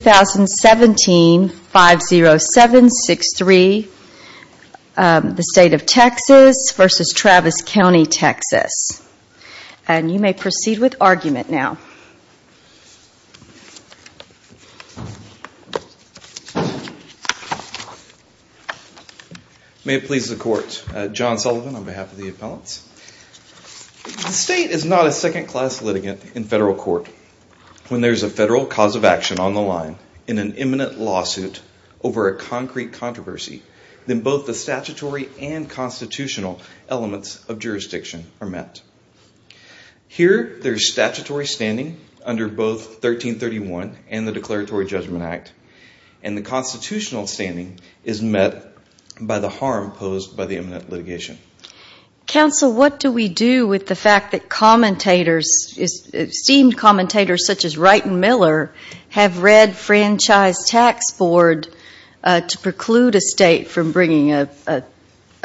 2017 50763 the state of Texas versus Travis County, Texas and you may proceed with argument now May it please the court, John Sullivan on behalf of the appellants The state is not a second class litigant in federal court When there's a federal cause of action on the line in an imminent lawsuit over a concrete controversy, then both the statutory and constitutional elements of jurisdiction are met Here, there's statutory standing under both 1331 and the Declaratory Judgment Act and the constitutional standing is met by the harm posed by the imminent litigation Counsel, what do we do with the fact that commentators esteemed commentators such as Wright and Miller have read franchise tax board to preclude a state from bringing a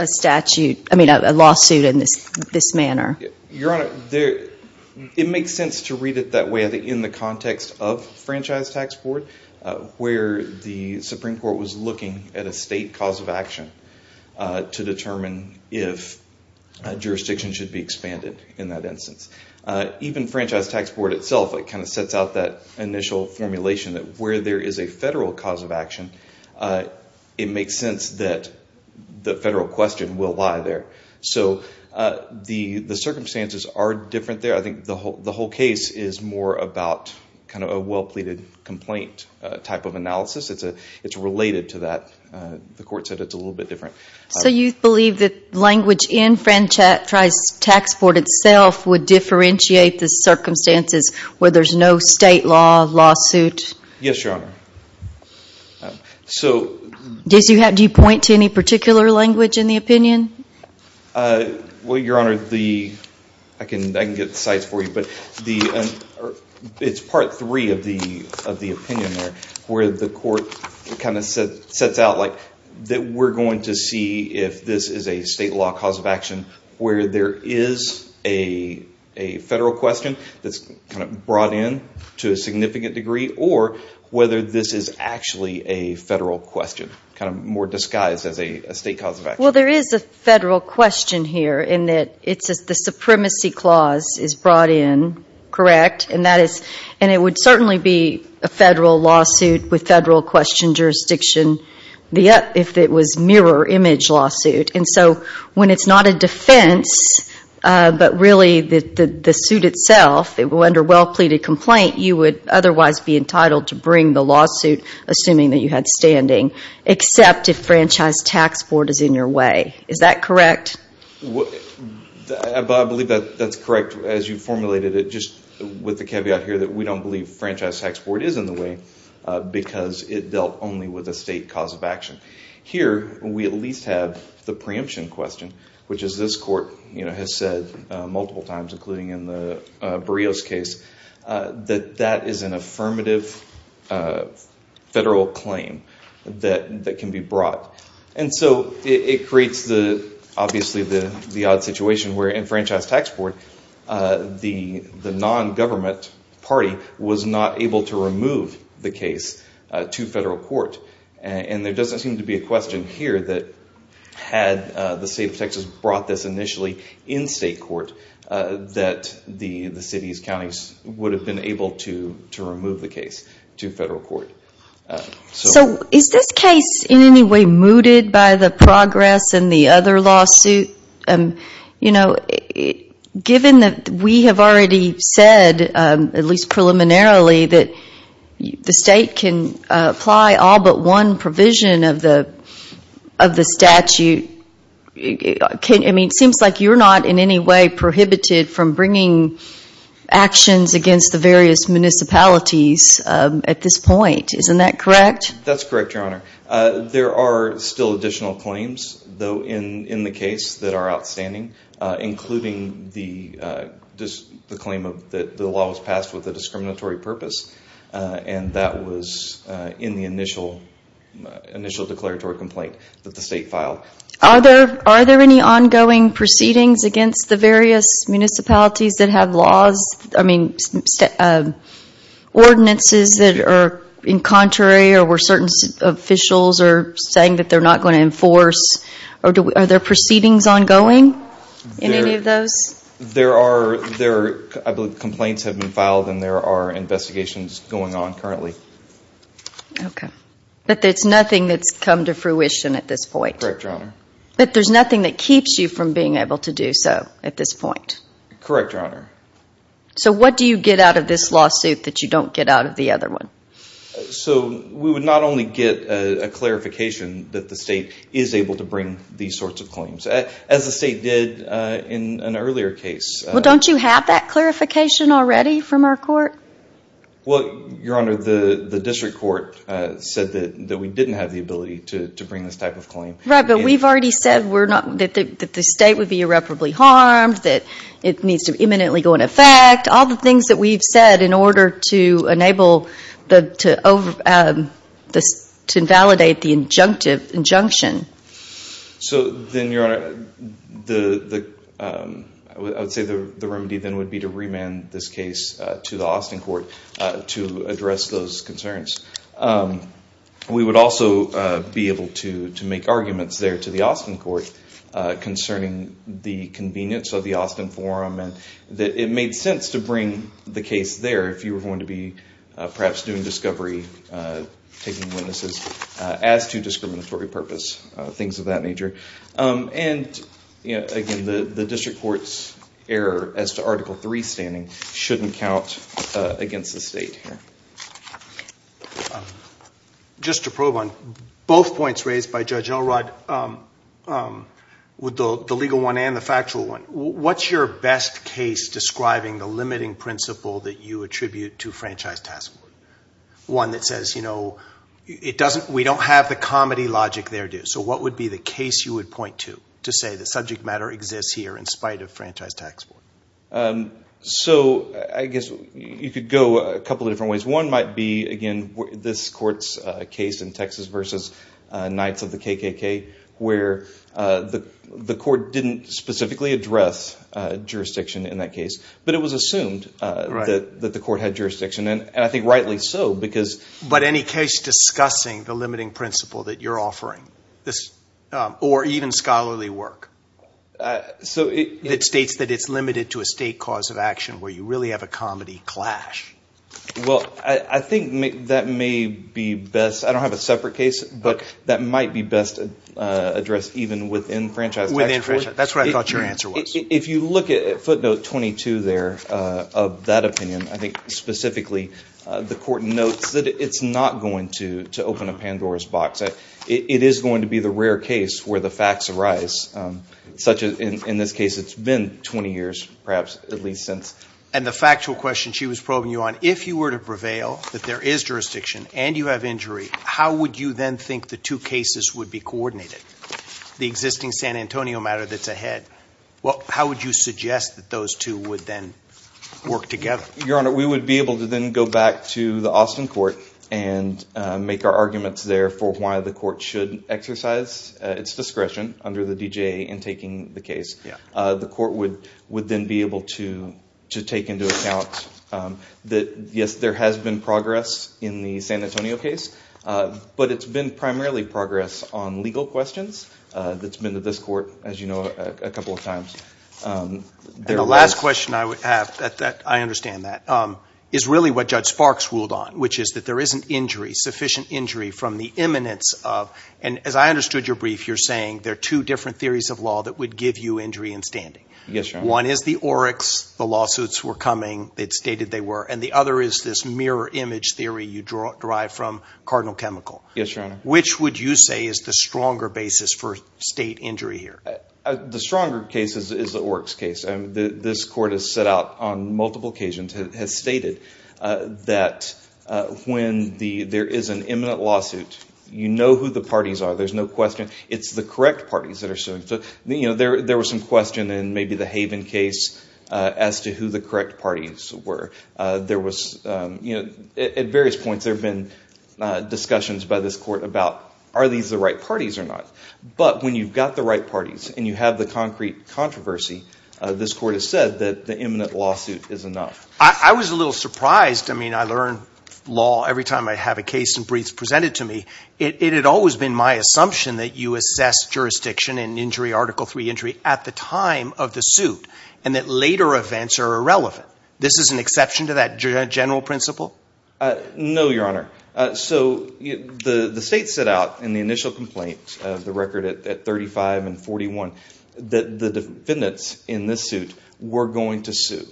statute, I mean a lawsuit in this manner Your Honor, it makes sense to read it that way in the context of franchise tax board where the Supreme Court was looking at a state cause of action to determine if jurisdiction should be expanded in that instance. Even franchise tax board itself, it kind of sets out that initial formulation that where there is a federal cause of action it makes sense that the federal question will lie there so the circumstances are different there. I think the whole case is more about kind of a well-pleaded complaint type of analysis. It's related to that. The court said it's a little bit different. So you believe that language in franchise tax board itself would differentiate the circumstances where there's no state law lawsuit? Yes, Your Honor. So, do you point to any particular language in the opinion? Well, Your Honor, the, I can get the sites for you, but it's part three of the opinion where the court kind of sets out like that we're going to see if this is a state law cause of action where there is a federal question that's kind of brought in to a significant degree or whether this is actually a federal question kind of more disguised as a state cause of action. Well, there is a federal question here in that it's the supremacy clause is brought in correct and that is and it would certainly be a federal lawsuit with federal question jurisdiction if it was mirror image lawsuit. And so when it's not a defense, but really that the suit itself, under well-pleaded complaint, you would otherwise be entitled to bring the lawsuit assuming that you had standing except if franchise tax board is in your way. Is that correct? I believe that that's correct as you formulated it just with the caveat here that we don't believe franchise tax board is in the way because it dealt only with the state cause of action. Here we at least have the preemption question which is this court has said multiple times including in the Barrios case that that is an affirmative federal claim that can be brought. And so it creates the obviously the the odd situation where in franchise tax board the non-government party was not able to remove the case to federal court. And there doesn't seem to be a question here that had the state of Texas brought this initially in state court that the city's counties would have been able to remove the case to federal court. So is this case in any way mooted by the progress in the other lawsuit? Given that we have already said at least preliminarily that the state can apply all but one provision of the statute it seems like you're not in any way prohibited from bringing actions against the various municipalities at this point. Isn't that correct? That's correct, Your Honor. There are still additional claims though in the case that are outstanding including the claim that the law was passed with a discriminatory purpose and that was in the initial initial declaratory complaint that the state filed. Are there any ongoing proceedings against the various municipalities that have laws I mean ordinances that are in contrary or where certain officials are saying that they're not going to enforce or are there proceedings ongoing in any of those? There are complaints have been filed and there are investigations going on currently. Okay, but there's nothing that's come to fruition at this point. Correct, Your Honor. But there's nothing that keeps you from being able to do so at this point? Correct, Your Honor. So what do you get out of this lawsuit that you don't get out of the other one? So we would not only get a clarification that the state is able to bring these sorts of claims as the state did in an earlier case. Well, don't you have that clarification already from our court? Well, Your Honor, the district court said that we didn't have the ability to bring this type of claim. Right, but we've already said that the state would be irreparably harmed, that it needs to imminently go into effect, all the things that we've said in order to invalidate the injunction. So then, Your Honor, I would say the remedy then would be to remand this case to the Austin court to address those concerns. We would also be able to make arguments there to the Austin court concerning the convenience of the Austin forum and that it made sense to bring the case there if you were going to be perhaps doing discovery, taking witnesses, as to discriminatory purpose, things of that nature. And again, the district court's error as to Article III standing shouldn't count against the state here. Just to probe on both points raised by Judge Elrod, with the legal one and the factual one, what's your best case describing the limiting principle that you attribute to Franchise Tax Board? One that says, you know, we don't have the comedy logic there, do we? So what would be the case you would point to to say the subject matter exists here in spite of Franchise Tax Board? So I guess you could go a couple of different ways. One might be, again, this court's case in Texas v. Knights of the KKK, where the court didn't specifically address jurisdiction in that case, but it was assumed that the court had jurisdiction, and I think rightly so, because... But any case discussing the limiting principle that you're offering, or even scholarly work, that states that it's limited to a state cause of action where you really have a comedy clash? Well, I think that may be best, I don't have a separate case, but that might be best addressed even within Franchise Tax Board. Within Franchise, that's what I thought your answer was. If you look at footnote 22 there of that opinion, I think specifically, the court notes that it's not going to open a Pandora's box. It is going to be the rare case where the facts arise, such as in this case, it's been 20 years, perhaps, at least since. And the factual question she was probing you on, if you were to prevail, that there is jurisdiction, and you have injury, how would you then think the two cases would be coordinated? The existing San Antonio matter that's ahead. How would you suggest that those two would then work together? Your Honor, we would be able to then go back to the Austin court and make our arguments there for why the court should exercise its discretion under the DGA in taking the case. The court would then be able to take into account that, yes, there has been progress in the San Antonio case, but it's been primarily progress on legal questions. That's been to this court, as you know, a couple of times. The last question I would have, that I understand that, is really what Judge Sparks ruled on, which is that there isn't injury, sufficient injury from the imminence of, and as I understood your brief, you're saying there are two different theories of law that would give you injury in standing. Yes, Your Honor. One is the Oryx, the lawsuits were coming, it's stated they were, and the other is this mirror image theory you derive from Cardinal Chemical. Yes, Your Honor. Which would you say is the stronger basis for state injury here? The stronger case is the Oryx case. This court has set out on multiple occasions, has stated that when there is an imminent lawsuit, you know who the parties are, there's no question, it's the correct parties that are suing. So, you know, there was some question in maybe the Haven case as to who the correct parties were. There was, you know, at various points there have been discussions by this court about are these the right parties or not. But when you've got the right parties and you have the concrete controversy, this court has said that the imminent lawsuit is enough. I was a little surprised, I mean, I learn law every time I have a case and briefs presented to me, it had always been my assumption that you assess jurisdiction and injury, Article III injury, at the time of the suit and that later events are irrelevant. This is an exception to that general principle? No, Your Honor. So, the state set out in the initial complaint of the record at 35 and 41 that the defendants in this suit were going to sue.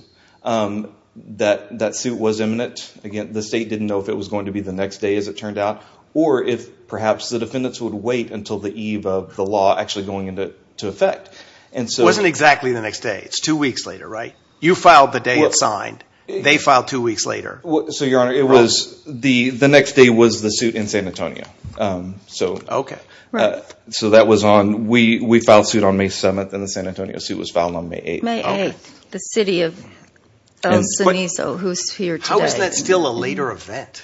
That suit was imminent. Again, the state didn't know if it was going to be the next day as it turned out or if perhaps the defendants would wait until the eve of the law actually going into effect. And so... It wasn't exactly the next day. It's two weeks later, right? You filed the day it's signed. They filed two weeks later. So, Your Honor, it was, the next day was the suit in San Antonio. So... Okay, right. So, that was on, we filed suit on May 7th and the San Antonio suit was filed on May 8th. May 8th, the city of El Cenizo who's here today. How is that still a later event?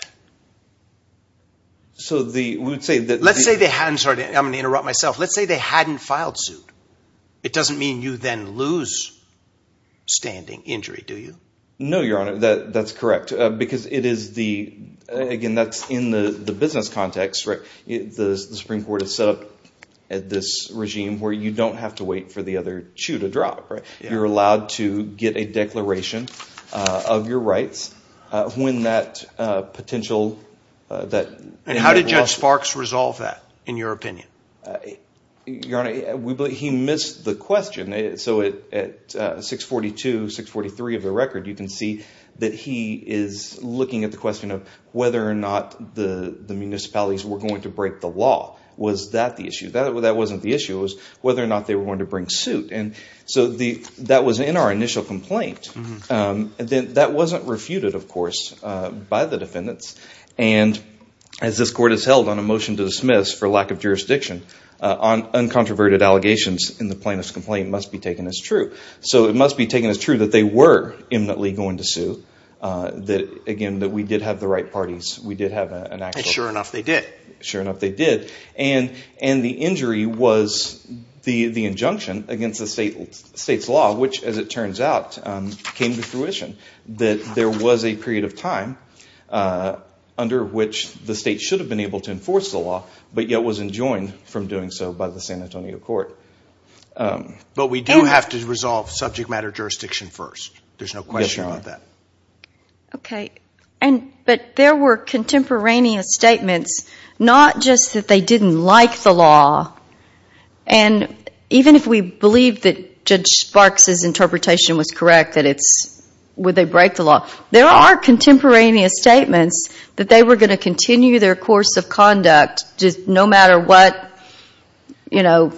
So, the, we would say that... Let's say they hadn't, sorry, I'm going to interrupt myself. Let's say they hadn't filed suit. It doesn't mean you then lose standing injury, do you? No, Your Honor, that's correct because it is the, again, that's in the business context, right? The Supreme Court has set up this regime where you don't have to wait for the other shoe to drop, right? You're allowed to get a declaration of your rights when that potential, that... And how did Judge Sparks resolve that, in your opinion? Your Honor, he missed the question. So, at 642, 643 of the record, you can see that he is looking at the question of whether or not the municipalities were going to break the law. Was that the issue? That wasn't the issue. It was whether or not they were going to bring suit. And so, that was in our initial complaint. That wasn't refuted, of course, by the defendants. And as this Court has held on a motion to dismiss for lack of jurisdiction, uncontroverted allegations in the plaintiff's complaint must be taken as true. So, it must be taken as true that they were imminently going to sue, that, again, that we did have the right parties. We did have an actual... And sure enough, they did. Sure enough, they did. And the injury was the injunction against the state's law, which, as it turns out, came to fruition, that there was a period of time under which the state should have been able to enforce the law, but yet was enjoined from doing so by the San Antonio Court. But we do have to resolve subject matter jurisdiction first. There's no question about that. Okay. But there were contemporaneous statements, not just that they didn't like the law. And even if we believe that Judge Sparks' interpretation was correct, that it's...would they break the law? There are contemporaneous statements that they were going to continue their course of conduct no matter what, you know,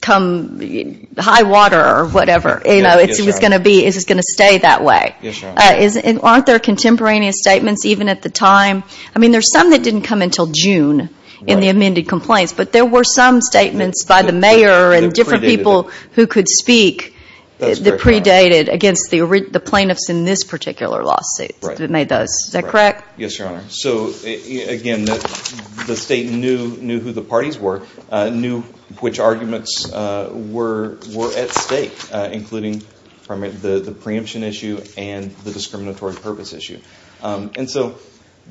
come high water or whatever. You know, it's going to be...it's going to stay that way. Yes, Your Honor. Aren't there contemporaneous statements even at the time... I mean, there's some that didn't come until June in the amended complaints, but there were some statements by the mayor and different people who could speak that predated against the plaintiffs in this particular lawsuit that made those. Is that correct? Yes, Your Honor. So, again, the state knew who the parties were, knew which arguments were at stake, including the preemption issue and the discriminatory purpose issue. And so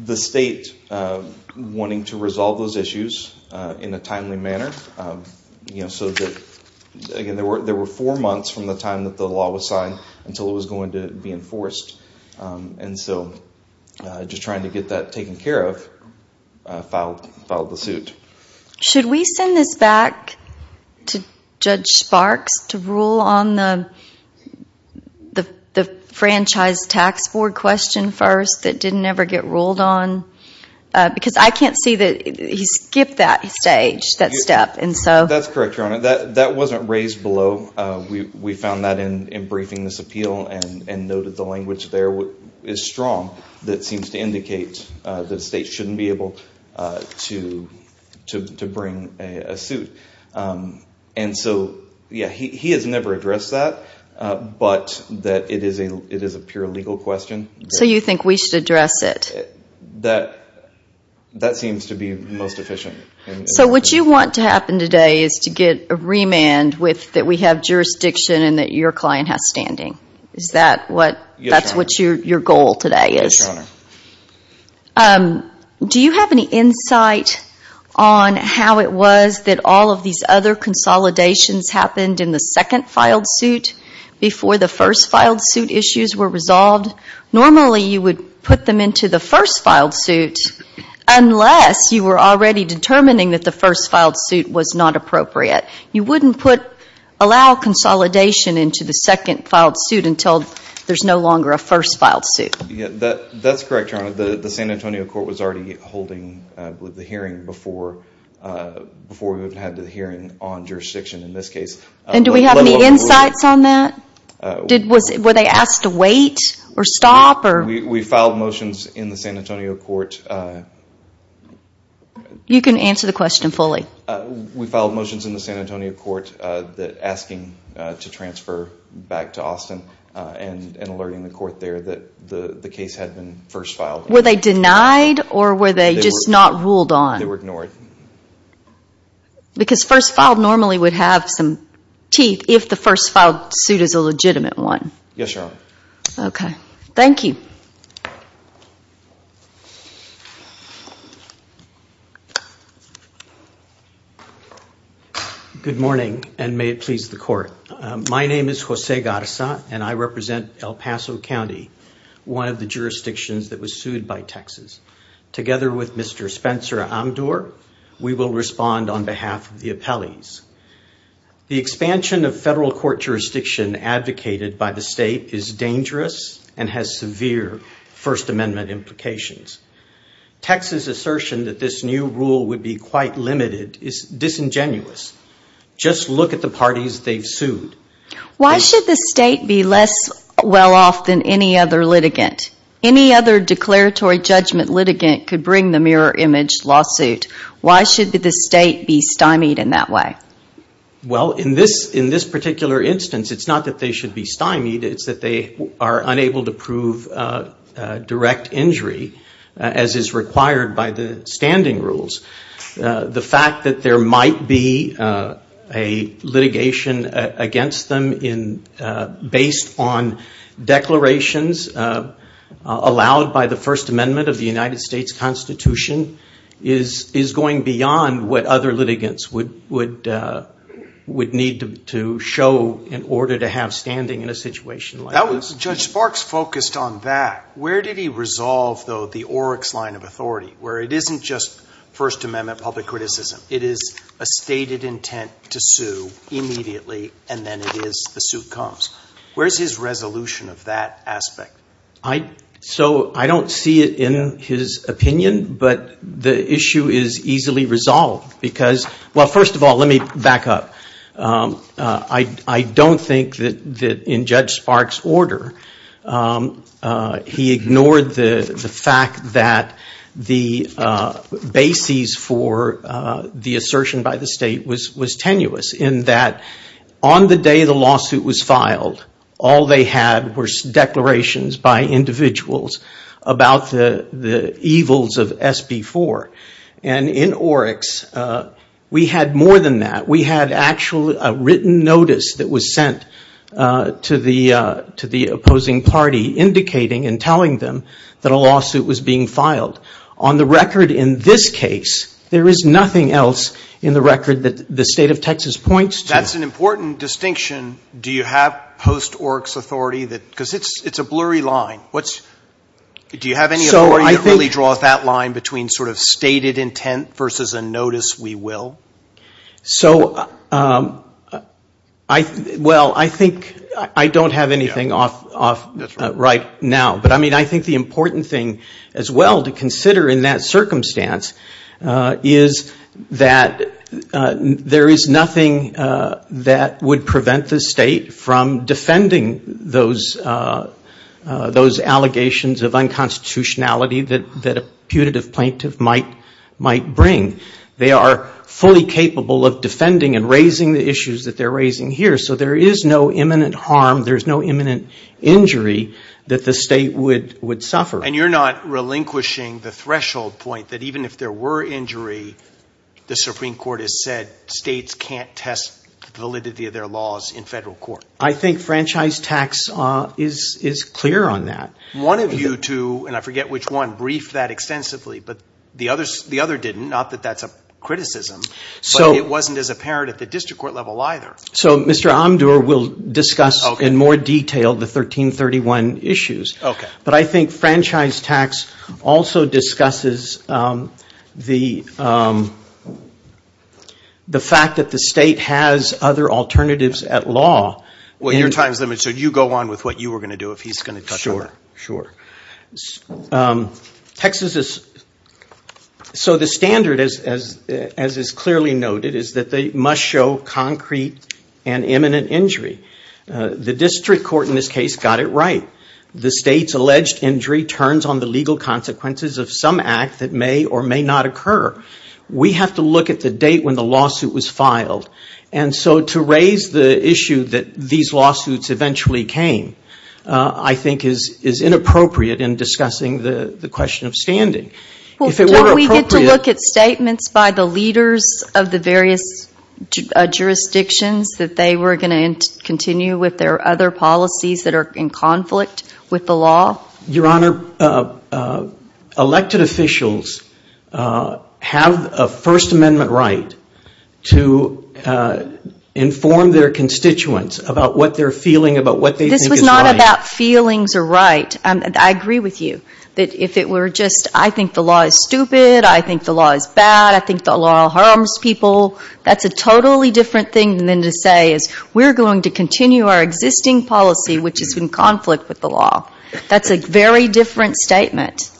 the state, wanting to resolve those issues in a timely manner, you know, so that, again, there were four months from the time that the law was signed until it was going to be enforced. And so just trying to get that taken care of, filed the suit. Should we send this back to Judge Sparks to rule on the franchise tax board question first that didn't ever get ruled on? Because I can't see that he skipped that stage, that step. And so... That's correct, Your Honor. That wasn't raised below. We found that in briefing this appeal and noted the language there is strong that seems And so, yeah, he has never addressed that, but that it is a pure legal question. So you think we should address it? That seems to be most efficient. So what you want to happen today is to get a remand with that we have jurisdiction and that your client has standing. Is that what your goal today is? Yes, Your Honor. Do you have any insight on how it was that all of these other consolidations happened in the second filed suit before the first filed suit issues were resolved? Normally, you would put them into the first filed suit unless you were already determining that the first filed suit was not appropriate. You wouldn't put, allow consolidation into the second filed suit until there's no longer a first filed suit. That's correct, Your Honor. The San Antonio court was already holding the hearing before we had the hearing on jurisdiction in this case. And do we have any insights on that? Were they asked to wait or stop? We filed motions in the San Antonio court... You can answer the question fully. We filed motions in the San Antonio court asking to transfer back to Austin and alerting the court there that the case had been first filed. Were they denied or were they just not ruled on? They were ignored. Because first filed normally would have some teeth if the first filed suit is a legitimate one. Yes, Your Honor. Thank you. Good morning and may it please the court. My name is Jose Garza and I represent El Paso County, one of the jurisdictions that was sued by Texas. Together with Mr. Spencer Amdur, we will respond on behalf of the appellees. The expansion of federal court jurisdiction advocated by the state is dangerous and has severe First Amendment implications. Texas' assertion that this new rule would be quite limited is disingenuous. Just look at the parties they've sued. Why should the state be less well-off than any other litigant? Any other declaratory judgment litigant could bring the mirror image lawsuit. Why should the state be stymied in that way? Well in this particular instance, it's not that they should be stymied, it's that they are unable to prove direct injury as is required by the standing rules. The fact that there might be a litigation against them based on declarations allowed by the First Amendment of the United States Constitution is going beyond what other litigants would need to show in order to have standing in a situation like this. Judge Sparks focused on that. Where did he resolve, though, the Oryx line of authority, where it isn't just First Amendment public criticism? It is a stated intent to sue immediately, and then it is the suit comes. Where is his resolution of that aspect? So I don't see it in his opinion, but the issue is easily resolved because, well, first of all, let me back up. I don't think that in Judge Sparks' order, he ignored the fact that the basis for the assertion by the state was tenuous in that on the day the lawsuit was filed, all they had were declarations by individuals about the evils of SB 4, and in Oryx, we had more than that. We had actually a written notice that was sent to the opposing party indicating and telling them that a lawsuit was being filed. On the record in this case, there is nothing else in the record that the state of Texas points to. That's an important distinction. Do you have post-Oryx authority? Because it's a blurry line. Do you have any authority to really draw that line between sort of stated intent versus a notice we will? So, well, I think I don't have anything off right now, but I mean, I think the important thing as well to consider in that circumstance is that there is nothing that would prevent the state from defending those allegations of unconstitutionality that a punitive plaintiff might bring. They are fully capable of defending and raising the issues that they're raising here. So there is no imminent harm. There's no imminent injury that the state would suffer. And you're not relinquishing the threshold point that even if there were injury, the Supreme Court has said states can't test the validity of their laws in federal court. I think franchise tax is clear on that. One of you two, and I forget which one, briefed that extensively, but the other didn't. Not that that's a criticism, but it wasn't as apparent at the district court level either. So Mr. Omdur will discuss in more detail the 1331 issues. But I think franchise tax also discusses the fact that the state has other alternatives at law. Well, your time's limited, so you go on with what you were going to do if he's going to touch on that. Sure. Texas is, so the standard, as is clearly noted, is that they must show concrete and imminent injury. The district court in this case got it right. The state's alleged injury turns on the legal consequences of some act that may or may not occur. We have to look at the date when the lawsuit was filed. And so to raise the issue that these lawsuits eventually came, I think is inappropriate in discussing the question of standing. Well, don't we get to look at statements by the leaders of the various jurisdictions that they were going to continue with their other policies that are in conflict with the law? Your Honor, elected officials have a First Amendment right to inform their constituents about what they're feeling, about what they think is right. I agree with you, that if it were just, I think the law is stupid, I think the law is bad, I think the law harms people, that's a totally different thing than to say, we're going to continue our existing policy, which is in conflict with the law. That's a very different statement.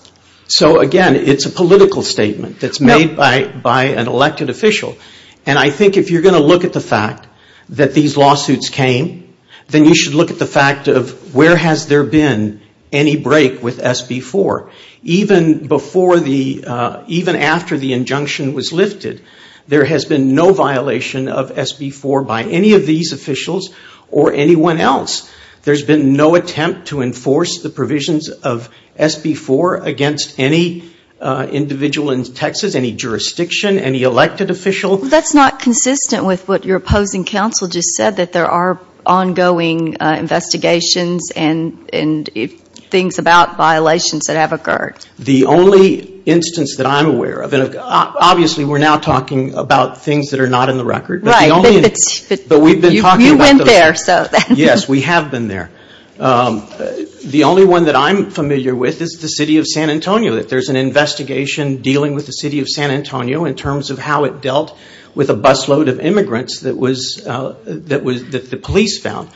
So, again, it's a political statement that's made by an elected official. And I think if you're going to look at the fact that these lawsuits came, then you should look at the fact of where has there been any break with SB 4. Even before the, even after the injunction was lifted, there has been no violation of SB 4 by any of these officials or anyone else. There's been no attempt to enforce the provisions of SB 4 against any individual in Texas, any jurisdiction, any elected official. That's not consistent with what your opposing counsel just said, that there are ongoing investigations and things about violations that have occurred. The only instance that I'm aware of, and obviously we're now talking about things that are not in the record. Right. But you went there. Yes, we have been there. The only one that I'm familiar with is the City of San Antonio. That there's an investigation dealing with the City of San Antonio in terms of how it dealt with a busload of immigrants that was, that the police found.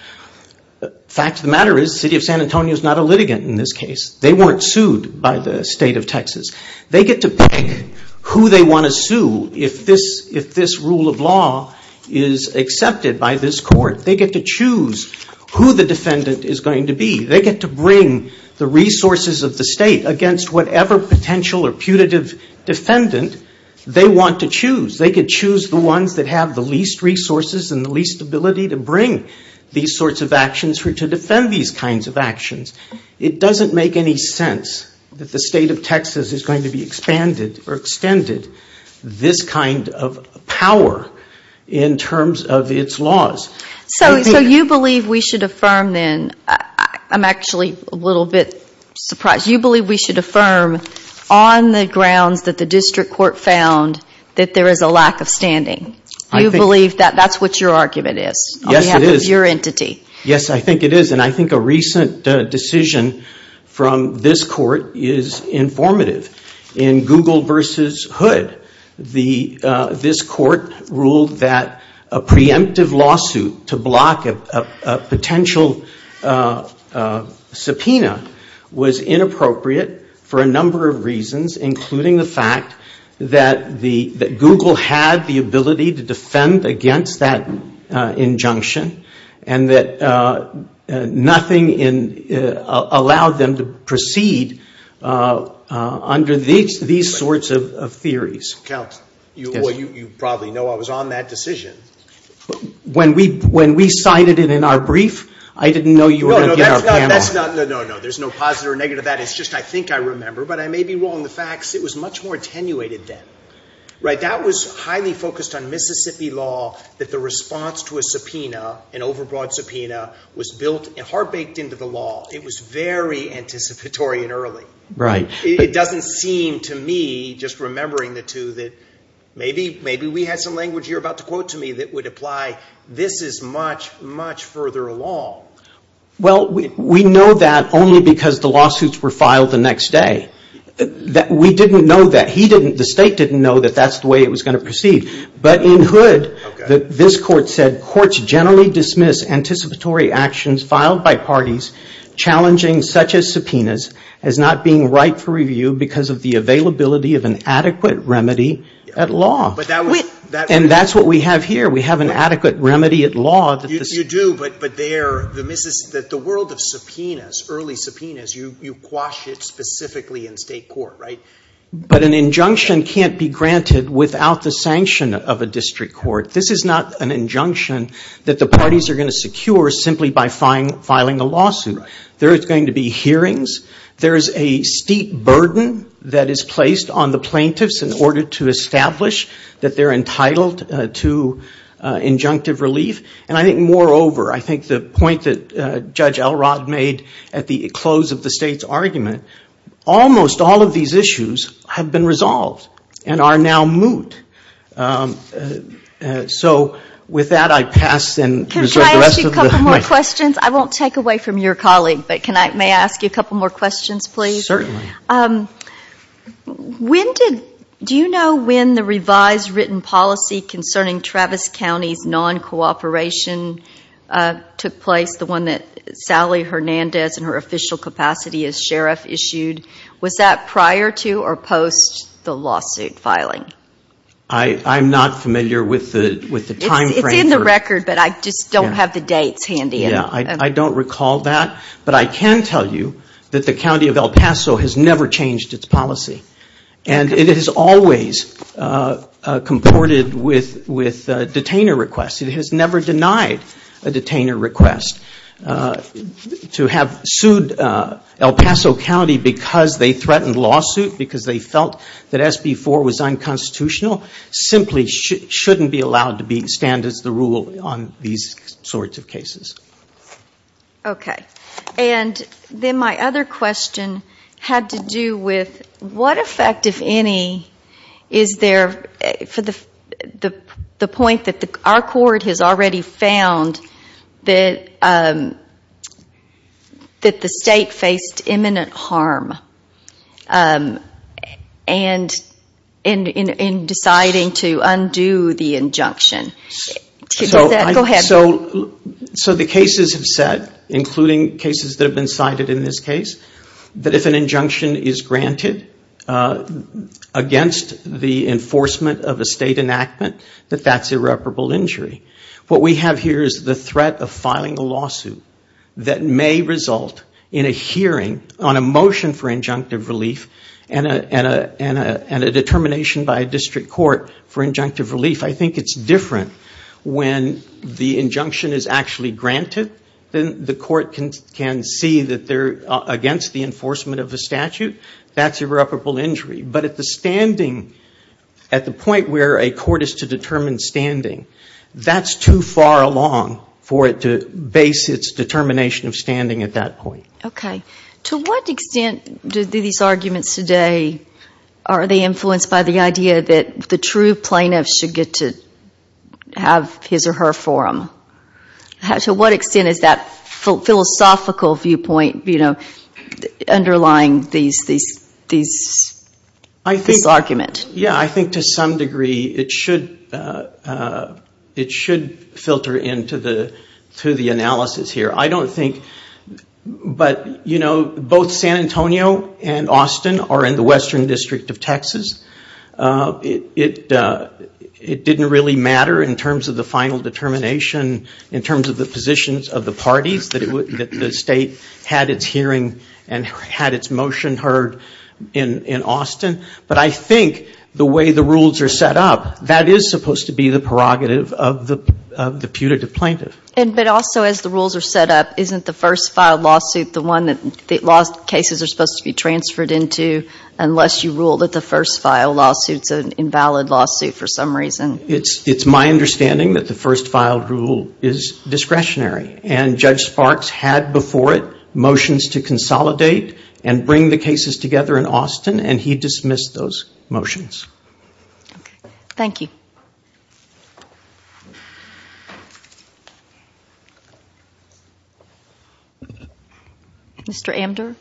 The fact of the matter is, the City of San Antonio is not a litigant in this case. They weren't sued by the state of Texas. They get to pick who they want to sue if this rule of law is accepted by this court. They get to choose who the defendant is going to be. They get to bring the resources of the state against whatever potential or putative defendant they want to choose. They could choose the ones that have the least resources and the least ability to bring these sorts of actions or to defend these kinds of actions. It doesn't make any sense that the state of Texas is going to be expanded or extended this kind of power in terms of its laws. So you believe we should affirm then, I'm actually a little bit surprised. You believe we should affirm on the grounds that the district court found that there is a lack of standing? You believe that that's what your argument is? Yes, it is. On behalf of your entity? Yes, I think it is. And I think a recent decision from this court is informative. In Google versus Hood, this court ruled that a preemptive lawsuit to block a potential subpoena was inappropriate for a number of reasons, including the fact that Google had the ability to defend against that injunction and that nothing allowed them to proceed on these sorts of theories. Count, you probably know I was on that decision. When we cited it in our brief, I didn't know you were going to get our panel on it. No, no, there's no positive or negative to that. It's just I think I remember, but I may be wrong. The fact is it was much more attenuated then. That was highly focused on Mississippi law, that the response to a subpoena, an overbought subpoena, was heart-baked into the law. It was very anticipatory and early. Right. It doesn't seem to me, just remembering the two, that maybe we had some language you're about to quote to me that would apply. This is much, much further along. Well, we know that only because the lawsuits were filed the next day. We didn't know that. The state didn't know that that's the way it was going to proceed. But in Hood, this court said, courts generally dismiss anticipatory actions filed by parties challenging such as subpoenas as not being right for review because of the availability of an adequate remedy at law. And that's what we have here. We have an adequate remedy at law. You do, but the world of subpoenas, early subpoenas, you quash it specifically in state court, right? But an injunction can't be granted without the sanction of a district court. This is not an injunction that the parties are going to secure simply by filing a lawsuit. Right. There is going to be hearings. There is a steep burden that is placed on the plaintiffs in order to establish that they're entitled to injunctive relief. And I think, moreover, I think the point that Judge Elrod made at the close of the state's and are now moot. So with that, I pass and reserve the rest of the mic. Can I ask you a couple more questions? I won't take away from your colleague, but can I, may I ask you a couple more questions, please? Certainly. When did, do you know when the revised written policy concerning Travis County's non-cooperation took place, the one that Sally Hernandez in her official capacity as sheriff issued? Was that prior to or post the lawsuit filing? I'm not familiar with the timeframe. It's in the record, but I just don't have the dates handy. I don't recall that, but I can tell you that the County of El Paso has never changed its policy. And it has always comported with detainer requests. It has never denied a detainer request. To have sued El Paso County because they threatened lawsuit, because they felt that SB 4 was unconstitutional, simply shouldn't be allowed to stand as the rule on these sorts of cases. Okay. And then my other question had to do with what effect, if any, is there for the point that our court has already found that the state faced imminent harm in deciding to undo the injunction? So the cases have said, including cases that have been cited in this case, that if an injunction is granted against the enforcement of a state enactment, that that's irreparable injury. What we have here is the threat of filing a lawsuit that may result in a hearing on a motion for injunctive relief and a determination by a district court for injunctive relief. I think it's different when the injunction is actually granted. Then the court can see that they're against the enforcement of the statute. That's irreparable injury. But at the point where a court is to determine standing, that's too far along for it to base its determination of standing at that point. Okay. To what extent do these arguments today, are they influenced by the idea that the true plaintiff should get to have his or her forum? To what extent is that philosophical viewpoint underlying this argument? Yeah, I think to some degree it should filter into the analysis here. I don't think, but both San Antonio and Austin are in the Western District of Texas. It didn't really matter in terms of the final determination, in terms of the positions of the parties, that the state had its hearing and had its motion heard in Austin. But I think the way the rules are set up, that is supposed to be the prerogative of the putative plaintiff. But also as the rules are set up, isn't the first filed lawsuit the one that the lost cases are supposed to be transferred into, unless you rule that the first filed lawsuit is an invalid lawsuit for some reason? It's my understanding that the first filed rule is discretionary. Judge Sparks had before it motions to consolidate and bring the cases together in Austin. And he dismissed those motions. Thank you. Mr. Amdur.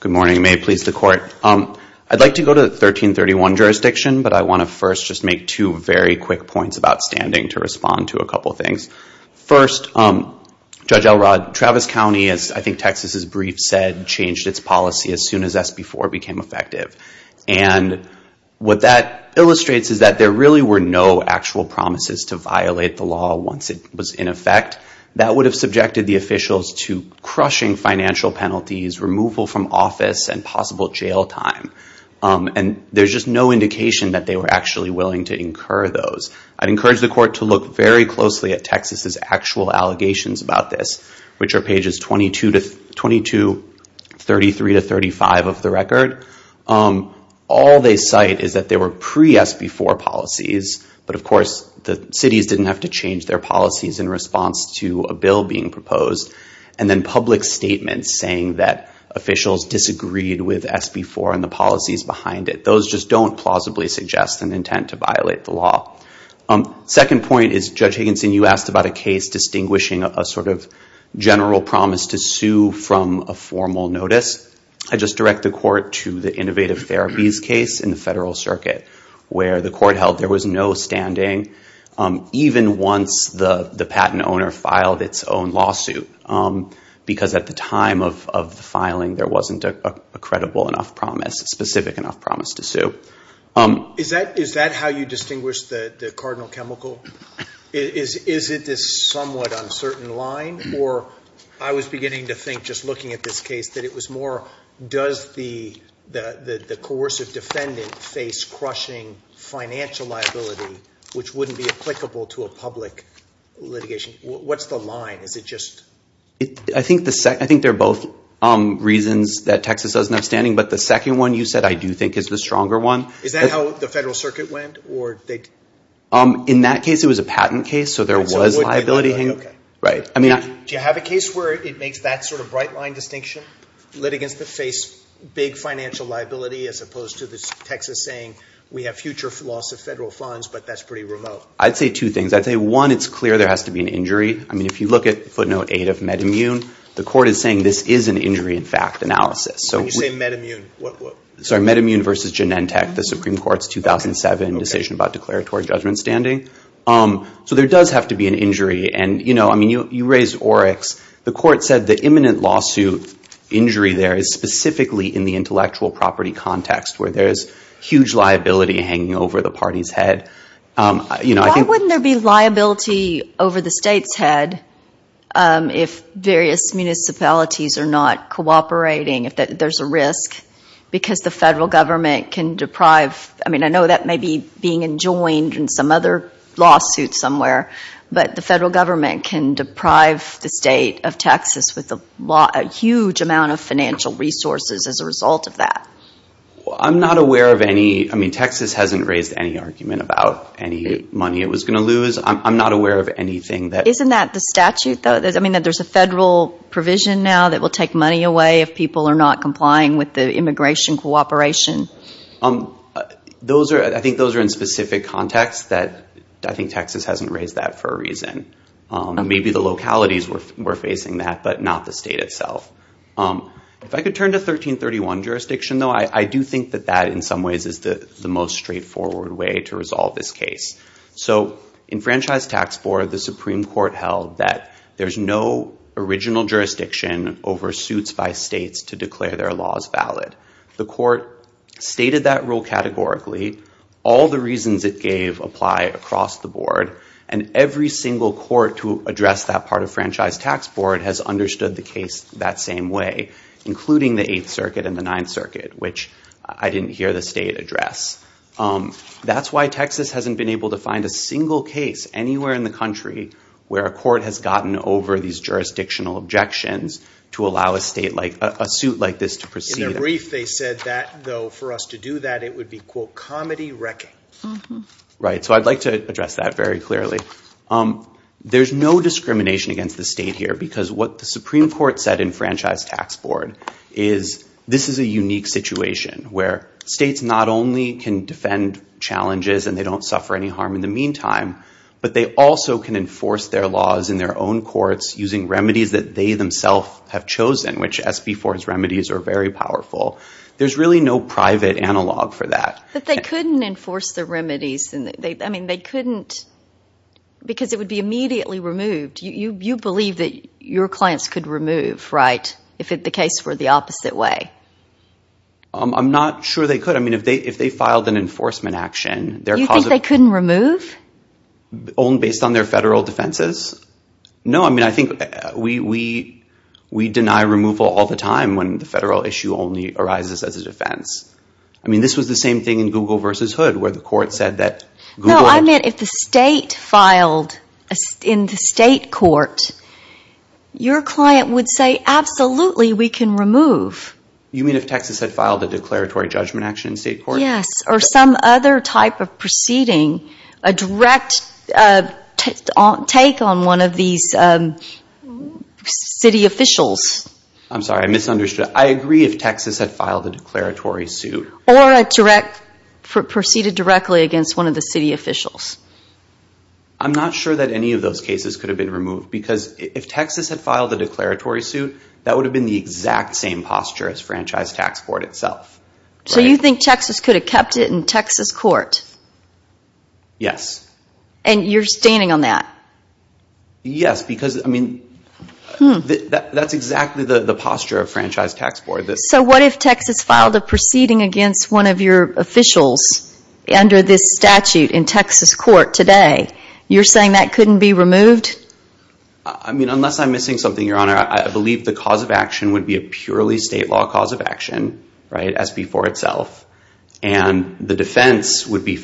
Good morning. May it please the Court. I'd like to go to the 1331 jurisdiction, but I want to first just make two very quick points about standing, to respond to a couple of things. First, Judge Elrod, Travis County, as I think Texas' brief said, changed its policy as soon as SB 4 became effective. And what that illustrates is that there really were no actual promises to violate the law once it was in effect. That would have subjected the officials to crushing financial penalties, removal from office, and possible jail time. And there's just no indication that they were actually willing to incur those. I'd encourage the Court to look very closely at Texas' actual allegations about this, which are pages 22-32, 33-35 of the record. All they cite is that they were pre-SB 4 policies, but of course the cities didn't have to change their policies in response to a bill being proposed. And then public statements saying that officials disagreed with SB 4 and the policies behind it. Those just don't plausibly suggest an intent to violate the law. Second point is, Judge Higginson, you asked about a case distinguishing a sort of general promise to sue from a formal notice. I just direct the Court to the Innovative Therapies case in the Federal Circuit, where the Court held there was no standing, even once the patent owner filed its own lawsuit. Because at the time of the filing, there wasn't a credible enough promise, a specific enough promise to sue. Is that how you distinguish the cardinal chemical? Is it this somewhat uncertain line? Or I was beginning to think, just looking at this case, that it was more does the coercive defendant face crushing financial liability, which wouldn't be applicable to a public litigation? What's the line? I think they're both reasons that Texas doesn't have standing, but the second one you said I do think is the stronger one. Is that how the Federal Circuit went? In that case, it was a patent case, so there was liability. Do you have a case where it makes that sort of bright line distinction? Litigants that face big financial liability, as opposed to Texas saying we have future loss of federal funds, but that's pretty remote. I'd say two things. I'd say one, it's clear there has to be an injury. If you look at footnote eight of MedImmune, the Court is saying this is an injury in fact analysis. When you say MedImmune, what? MedImmune versus Genentech, the Supreme Court's 2007 decision. It was a decision about declaratory judgment standing. So there does have to be an injury. You raised Oryx. The Court said the imminent lawsuit injury there is specifically in the intellectual property context, where there's huge liability hanging over the party's head. Why wouldn't there be liability over the state's head if various municipalities are not cooperating, if there's a risk because the federal government can deprive? I mean, I know that may be being enjoined in some other lawsuit somewhere, but the federal government can deprive the state of Texas with a huge amount of financial resources as a result of that. I'm not aware of any. I mean, Texas hasn't raised any argument about any money it was going to lose. I'm not aware of anything that... Isn't that the statute, though? I mean, that there's a federal provision now that will take money away if people are not complying with the immigration cooperation? Those are... I think those are in specific contexts that I think Texas hasn't raised that for a reason. Maybe the localities were facing that, but not the state itself. If I could turn to 1331 jurisdiction, though, I do think that that, in some ways, is the most straightforward way to resolve this case. So in Franchise Tax 4, the Supreme Court held that there's no original jurisdiction over suits by states to declare their laws valid. The court stated that rule categorically. All the reasons it gave apply across the board. And every single court to address that part of Franchise Tax Board has understood the case that same way, including the 8th Circuit and the 9th Circuit, which I didn't hear the state address. That's why Texas hasn't been able to find a single case anywhere in the country where a court has gotten over these jurisdictional objections to allow a state like... To be brief, they said that, though, for us to do that, it would be, quote, comedy-wrecking. Right. So I'd like to address that very clearly. There's no discrimination against the state here because what the Supreme Court said in Franchise Tax Board is this is a unique situation where states not only can defend challenges and they don't suffer any harm in the meantime, but they also can enforce their laws in their own courts using remedies that they themselves have chosen, which SB 4's remedies are very powerful. There's really no private analog for that. But they couldn't enforce the remedies. I mean, they couldn't... Because it would be immediately removed. You believe that your clients could remove, right, if the case were the opposite way? I'm not sure they could. I mean, if they filed an enforcement action, their cause... You think they couldn't remove? Based on their federal defenses? No. I think we deny removal all the time when the federal issue only arises as a defense. I mean, this was the same thing in Google v. Hood, where the court said that Google... No, I meant if the state filed in the state court, your client would say, absolutely, we can remove. You mean if Texas had filed a declaratory judgment action in state court? Yes, or some other type of proceeding, a direct take on one of these city officials. I'm sorry, I misunderstood. I agree if Texas had filed a declaratory suit. Or a direct... Proceeded directly against one of the city officials. I'm not sure that any of those cases could have been removed because if Texas had filed a declaratory suit, that would have been the exact same posture as Franchise Tax Court itself. So you think Texas could have kept it in Texas court? Yes. And you're standing on that? Yes, because that's exactly the posture of Franchise Tax Board. So what if Texas filed a proceeding against one of your officials under this statute in Texas court today? You're saying that couldn't be removed? I mean, unless I'm missing something, Your Honor, I believe the cause of action would be a purely state law cause of action as before itself. And the defense would be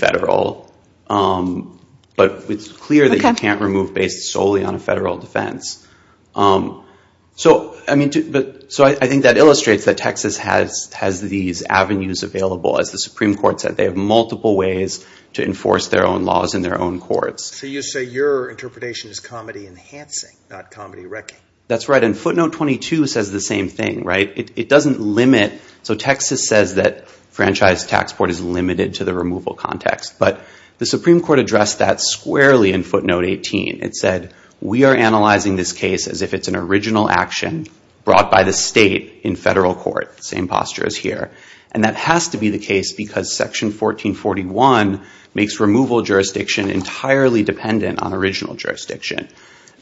But it's clear that you can't remove based solely on a federal defense. So I think that illustrates that Texas has these avenues available, as the Supreme Court said. They have multiple ways to enforce their own laws in their own courts. So you say your interpretation is comedy enhancing, not comedy wrecking. That's right. And footnote 22 says the same thing. It doesn't limit... So Texas says that Franchise Tax Court is limited to the removal context. But the Supreme Court addressed that squarely in footnote 18. It said, we are analyzing this case as if it's an original action brought by the state in federal court. Same posture as here. And that has to be the case because section 1441 makes removal jurisdiction entirely dependent on original jurisdiction.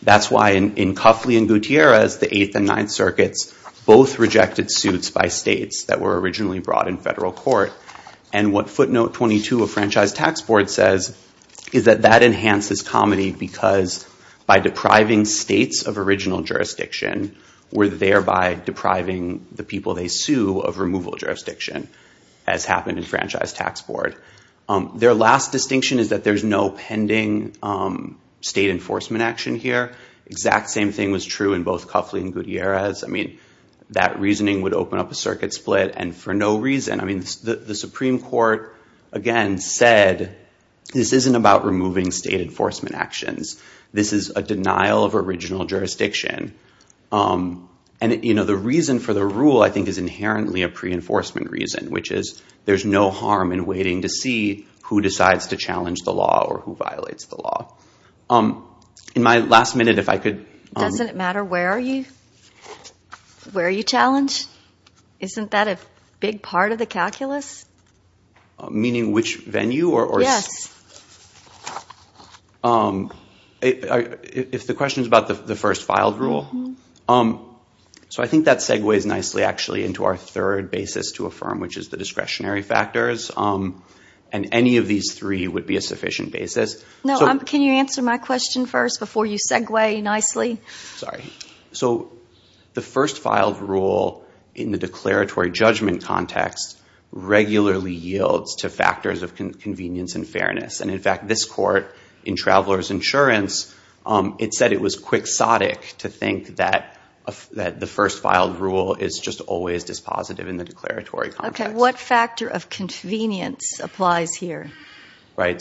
That's why in Cuffley and Gutierrez, the 8th and 9th circuits, both rejected suits by states that were originally brought in federal court. And what footnote 22 of Franchise Tax Board says is that that enhances comedy because by depriving states of original jurisdiction, we're thereby depriving the people they sue of removal jurisdiction, as happened in Franchise Tax Board. Their last distinction is that there's no pending state enforcement action here. Exact same thing was true in both Cuffley and Gutierrez. That reasoning would open up a circuit split and for no reason. The Supreme Court, again, said this isn't about removing state enforcement actions. This is a denial of original jurisdiction. The reason for the rule, I think, is inherently a pre-enforcement reason, which is there's no harm in waiting to see who decides to challenge the law or who violates the law. In my last minute, if I could... Doesn't it matter where you challenge? Isn't that a big part of the calculus? Meaning which venue? Yes. If the question is about the first filed rule, I think that segues nicely into our third basis to affirm, which is the discretionary factors. Any of these three would be a sufficient basis. Can you answer my question first before you segue nicely? Sorry. The first filed rule in the declaratory judgment context regularly yields to factors of convenience and fairness. In fact, this court in Traveler's Insurance said it was quixotic to think that the first filed rule is just always dispositive in the declaratory context. What factor of convenience applies here?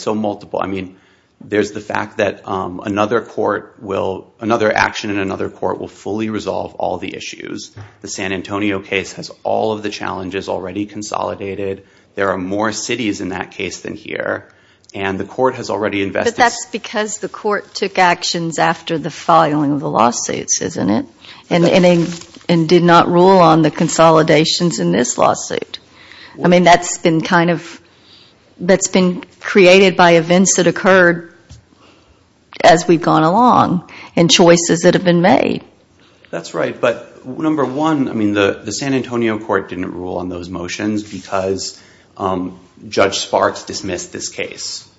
Multiple. There's the fact that another action in another court will fully resolve all the issues. The San Antonio case has all of the challenges already consolidated. There are more cities in that case than here. The court has already invested... But that's because the court took actions after the filing of the lawsuits, isn't it? And did not rule on the consolidations in this lawsuit. That's been created by events that occurred as we've been made. The San Antonio court didn't rule on those motions because Judge Sparks dismissed this case.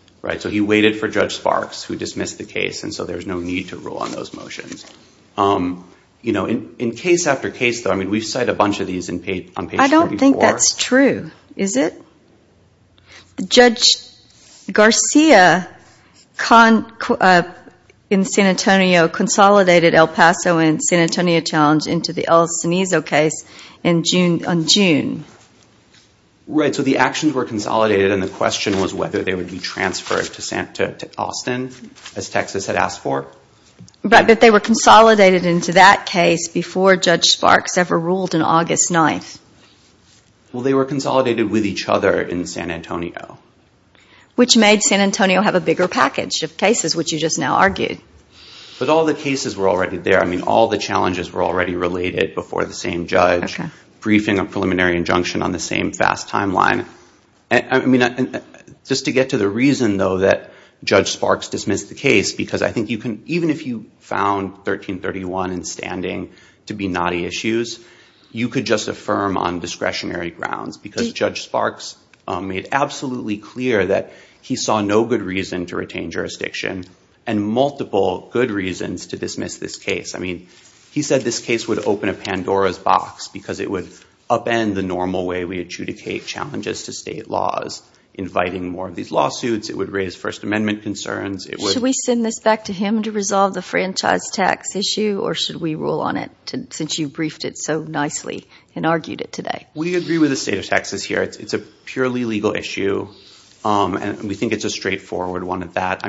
He waited for Judge Sparks, who dismissed the case, so there's no need to rule on those motions. In case after case, we cite a bunch of these on page 34. I don't think that's true, is it? Judge Garcia in El Paso and San Antonio challenge into the El Cenizo case on June. Right, so the actions were consolidated and the question was whether they would be transferred to Austin as Texas had asked for. But they were consolidated into that case before Judge Sparks ever ruled on August 9th. Well, they were consolidated with each other in San Antonio. Which made San Antonio have a bigger package of cases, which you just now argued. But all the cases were already there. All the challenges were already related before the same judge. Briefing a preliminary injunction on the same fast timeline. Just to get to the reason, though, that Judge Sparks dismissed the case because I think you can, even if you found 1331 in standing to be knotty issues, you could just affirm on discretionary grounds because Judge Sparks made absolutely clear that he saw no good reason to retain this case. He said this case would open a Pandora's box because it would upend the normal way we adjudicate challenges to state laws, inviting more of these lawsuits. It would raise First Amendment concerns. Should we send this back to him to resolve the franchise tax issue or should we rule on it since you briefed it so nicely and argued it today? We agree with the state of Texas here. It's a purely legal issue. We think it's a straightforward one at that.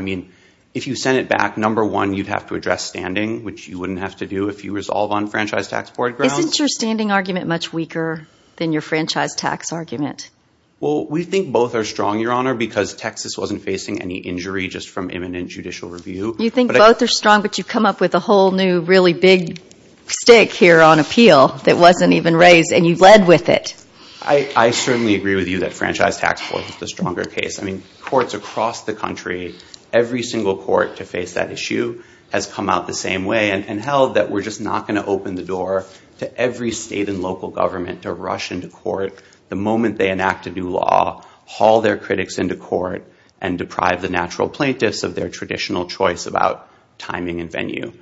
If you sent it back, number one, you'd have to address standing, which you wouldn't have to do if you resolve on franchise tax board grounds. Isn't your standing argument much weaker than your franchise tax argument? We think both are strong, Your Honor, because Texas wasn't facing any injury just from imminent judicial review. You think both are strong but you come up with a whole new really big stick here on appeal that wasn't even raised and you led with it. I certainly agree with you that franchise tax board is the stronger case. Courts across the country, every single court to face that issue has come out the same way and held that we're just not going to open the door to every state and local government to rush into court the moment they enact a new law, haul their critics into court, and deprive the natural plaintiffs of their traditional choice about timing and venue.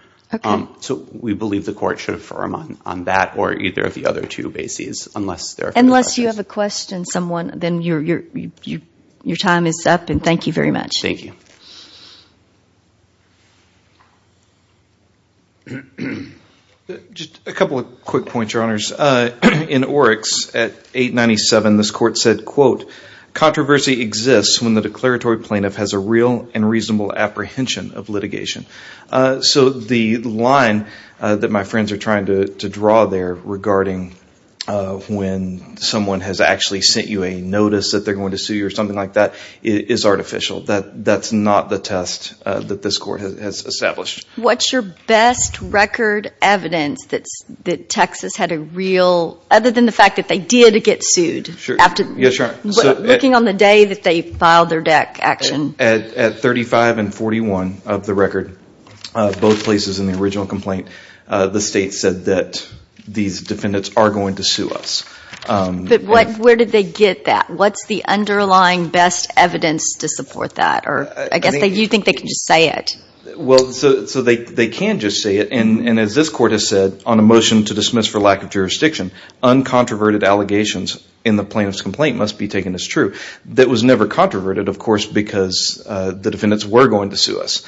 We believe the court should affirm on that or either of the other two bases unless there are questions. Unless you have a question, someone, then your time is up and thank you very much. Just a couple of quick points, Your Honors. In Oryx at 897 this court said, quote, Controversy exists when the declaratory plaintiff has a real and reasonable apprehension of litigation. So the line that my friends are trying to draw there regarding when someone has actually sent you a notice that they're going to sue you or something like that is artificial. That's not the test that this court has established. What's your best record evidence that Texas had a real, other than the fact that they did get sued looking on the day that they filed their deck action? At 35 and 41 of the record, both places in the original complaint, the state said that these But where did they get that? What's the underlying best evidence to support that? Do you think they can just say it? They can just say it and as this court has said, on a motion to dismiss for lack of jurisdiction, uncontroverted allegations in the plaintiff's complaint must be taken as true. That was never controverted, of course, because the defendants were going to sue us.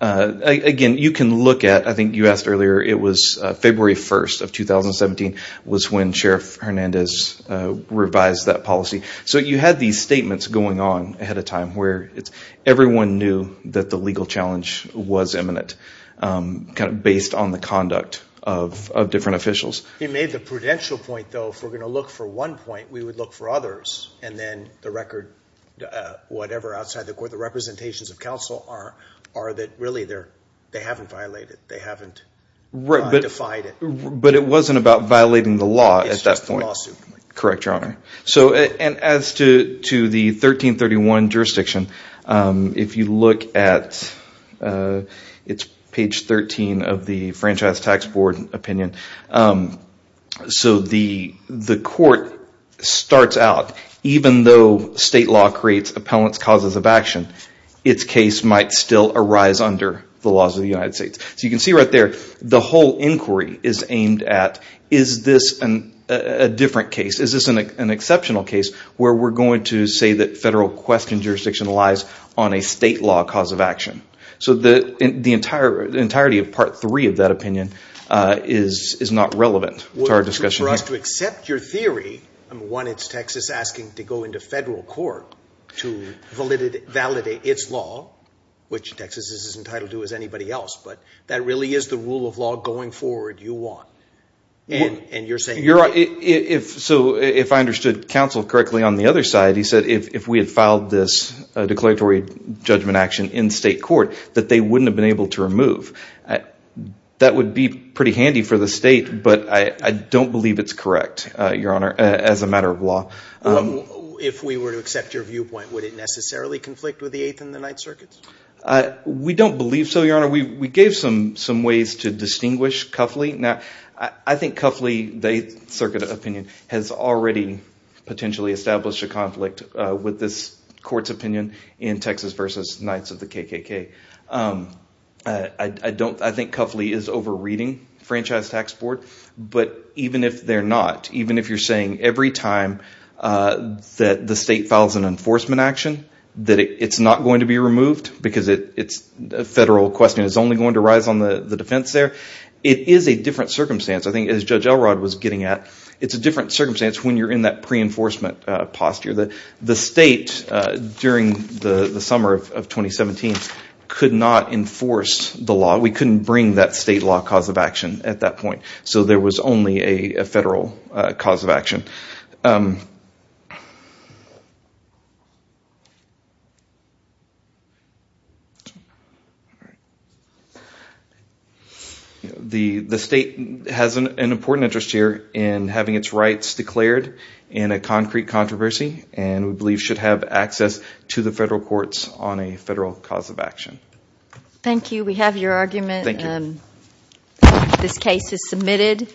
Again, you can look at, I think you asked earlier, it was February 1 of 2017 was when Sheriff Hernandez revised that policy. So you had these statements going on ahead of time where everyone knew that the legal challenge was imminent based on the conduct of different officials. He made the prudential point, though, if we're going to look for one point, we would look for others and then the record, whatever outside the court, the representations of counsel are that really they haven't violated, they haven't defied it. But it wasn't about violating the law at that point. It's just a lawsuit. As to the 1331 jurisdiction, if you look at page 13 of the Franchise Tax Board opinion, the court starts out, even though state law creates appellant's causes of action, its case might still arise under the laws of the United States. So you can see right there the whole inquiry is aimed at is this a different case, is this an exceptional case where we're going to say that federal question jurisdiction relies on a state law cause of action. So the entirety of part three of that opinion is not relevant to our discussion. For us to accept your theory, one, it's Texas asking to go into federal court to validate its law, which Texas is entitled to as anybody else. But that really is the rule of law going forward you want. And you're saying... So if I understood counsel correctly on the other side, he said if we had filed this declaratory judgment action in state court, that they wouldn't have been able to remove. That would be pretty handy for the state, but I don't believe it's correct, Your Honor, as a matter of law. If we were to accept your viewpoint, would it necessarily conflict with the Eighth and the Ninth Circuits? We don't believe so, Your Honor. We gave some ways to distinguish Cuffley. Now, I think Cuffley, the Eighth Circuit opinion, has already potentially established a conflict with this court's opinion in Texas versus Knights of the KKK. I think Cuffley is over-reading Franchise Tax Board, but even if they're not, even if you're saying every time that the state files an enforcement action that it's not going to be removed because it's a federal question, it's only going to rise on the defense there, it is a different circumstance. I think as Judge Elrod was getting at, it's a different circumstance when you're in that pre-enforcement posture. The state during the summer of 2017 could not enforce the law. We couldn't bring that state law cause of action at that point. So there was only a federal cause of action. Thank you. The state has an important interest here in having its rights declared in a concrete controversy, and we believe should have access to the federal courts on a federal cause of action. Thank you. We have your argument. This case is submitted.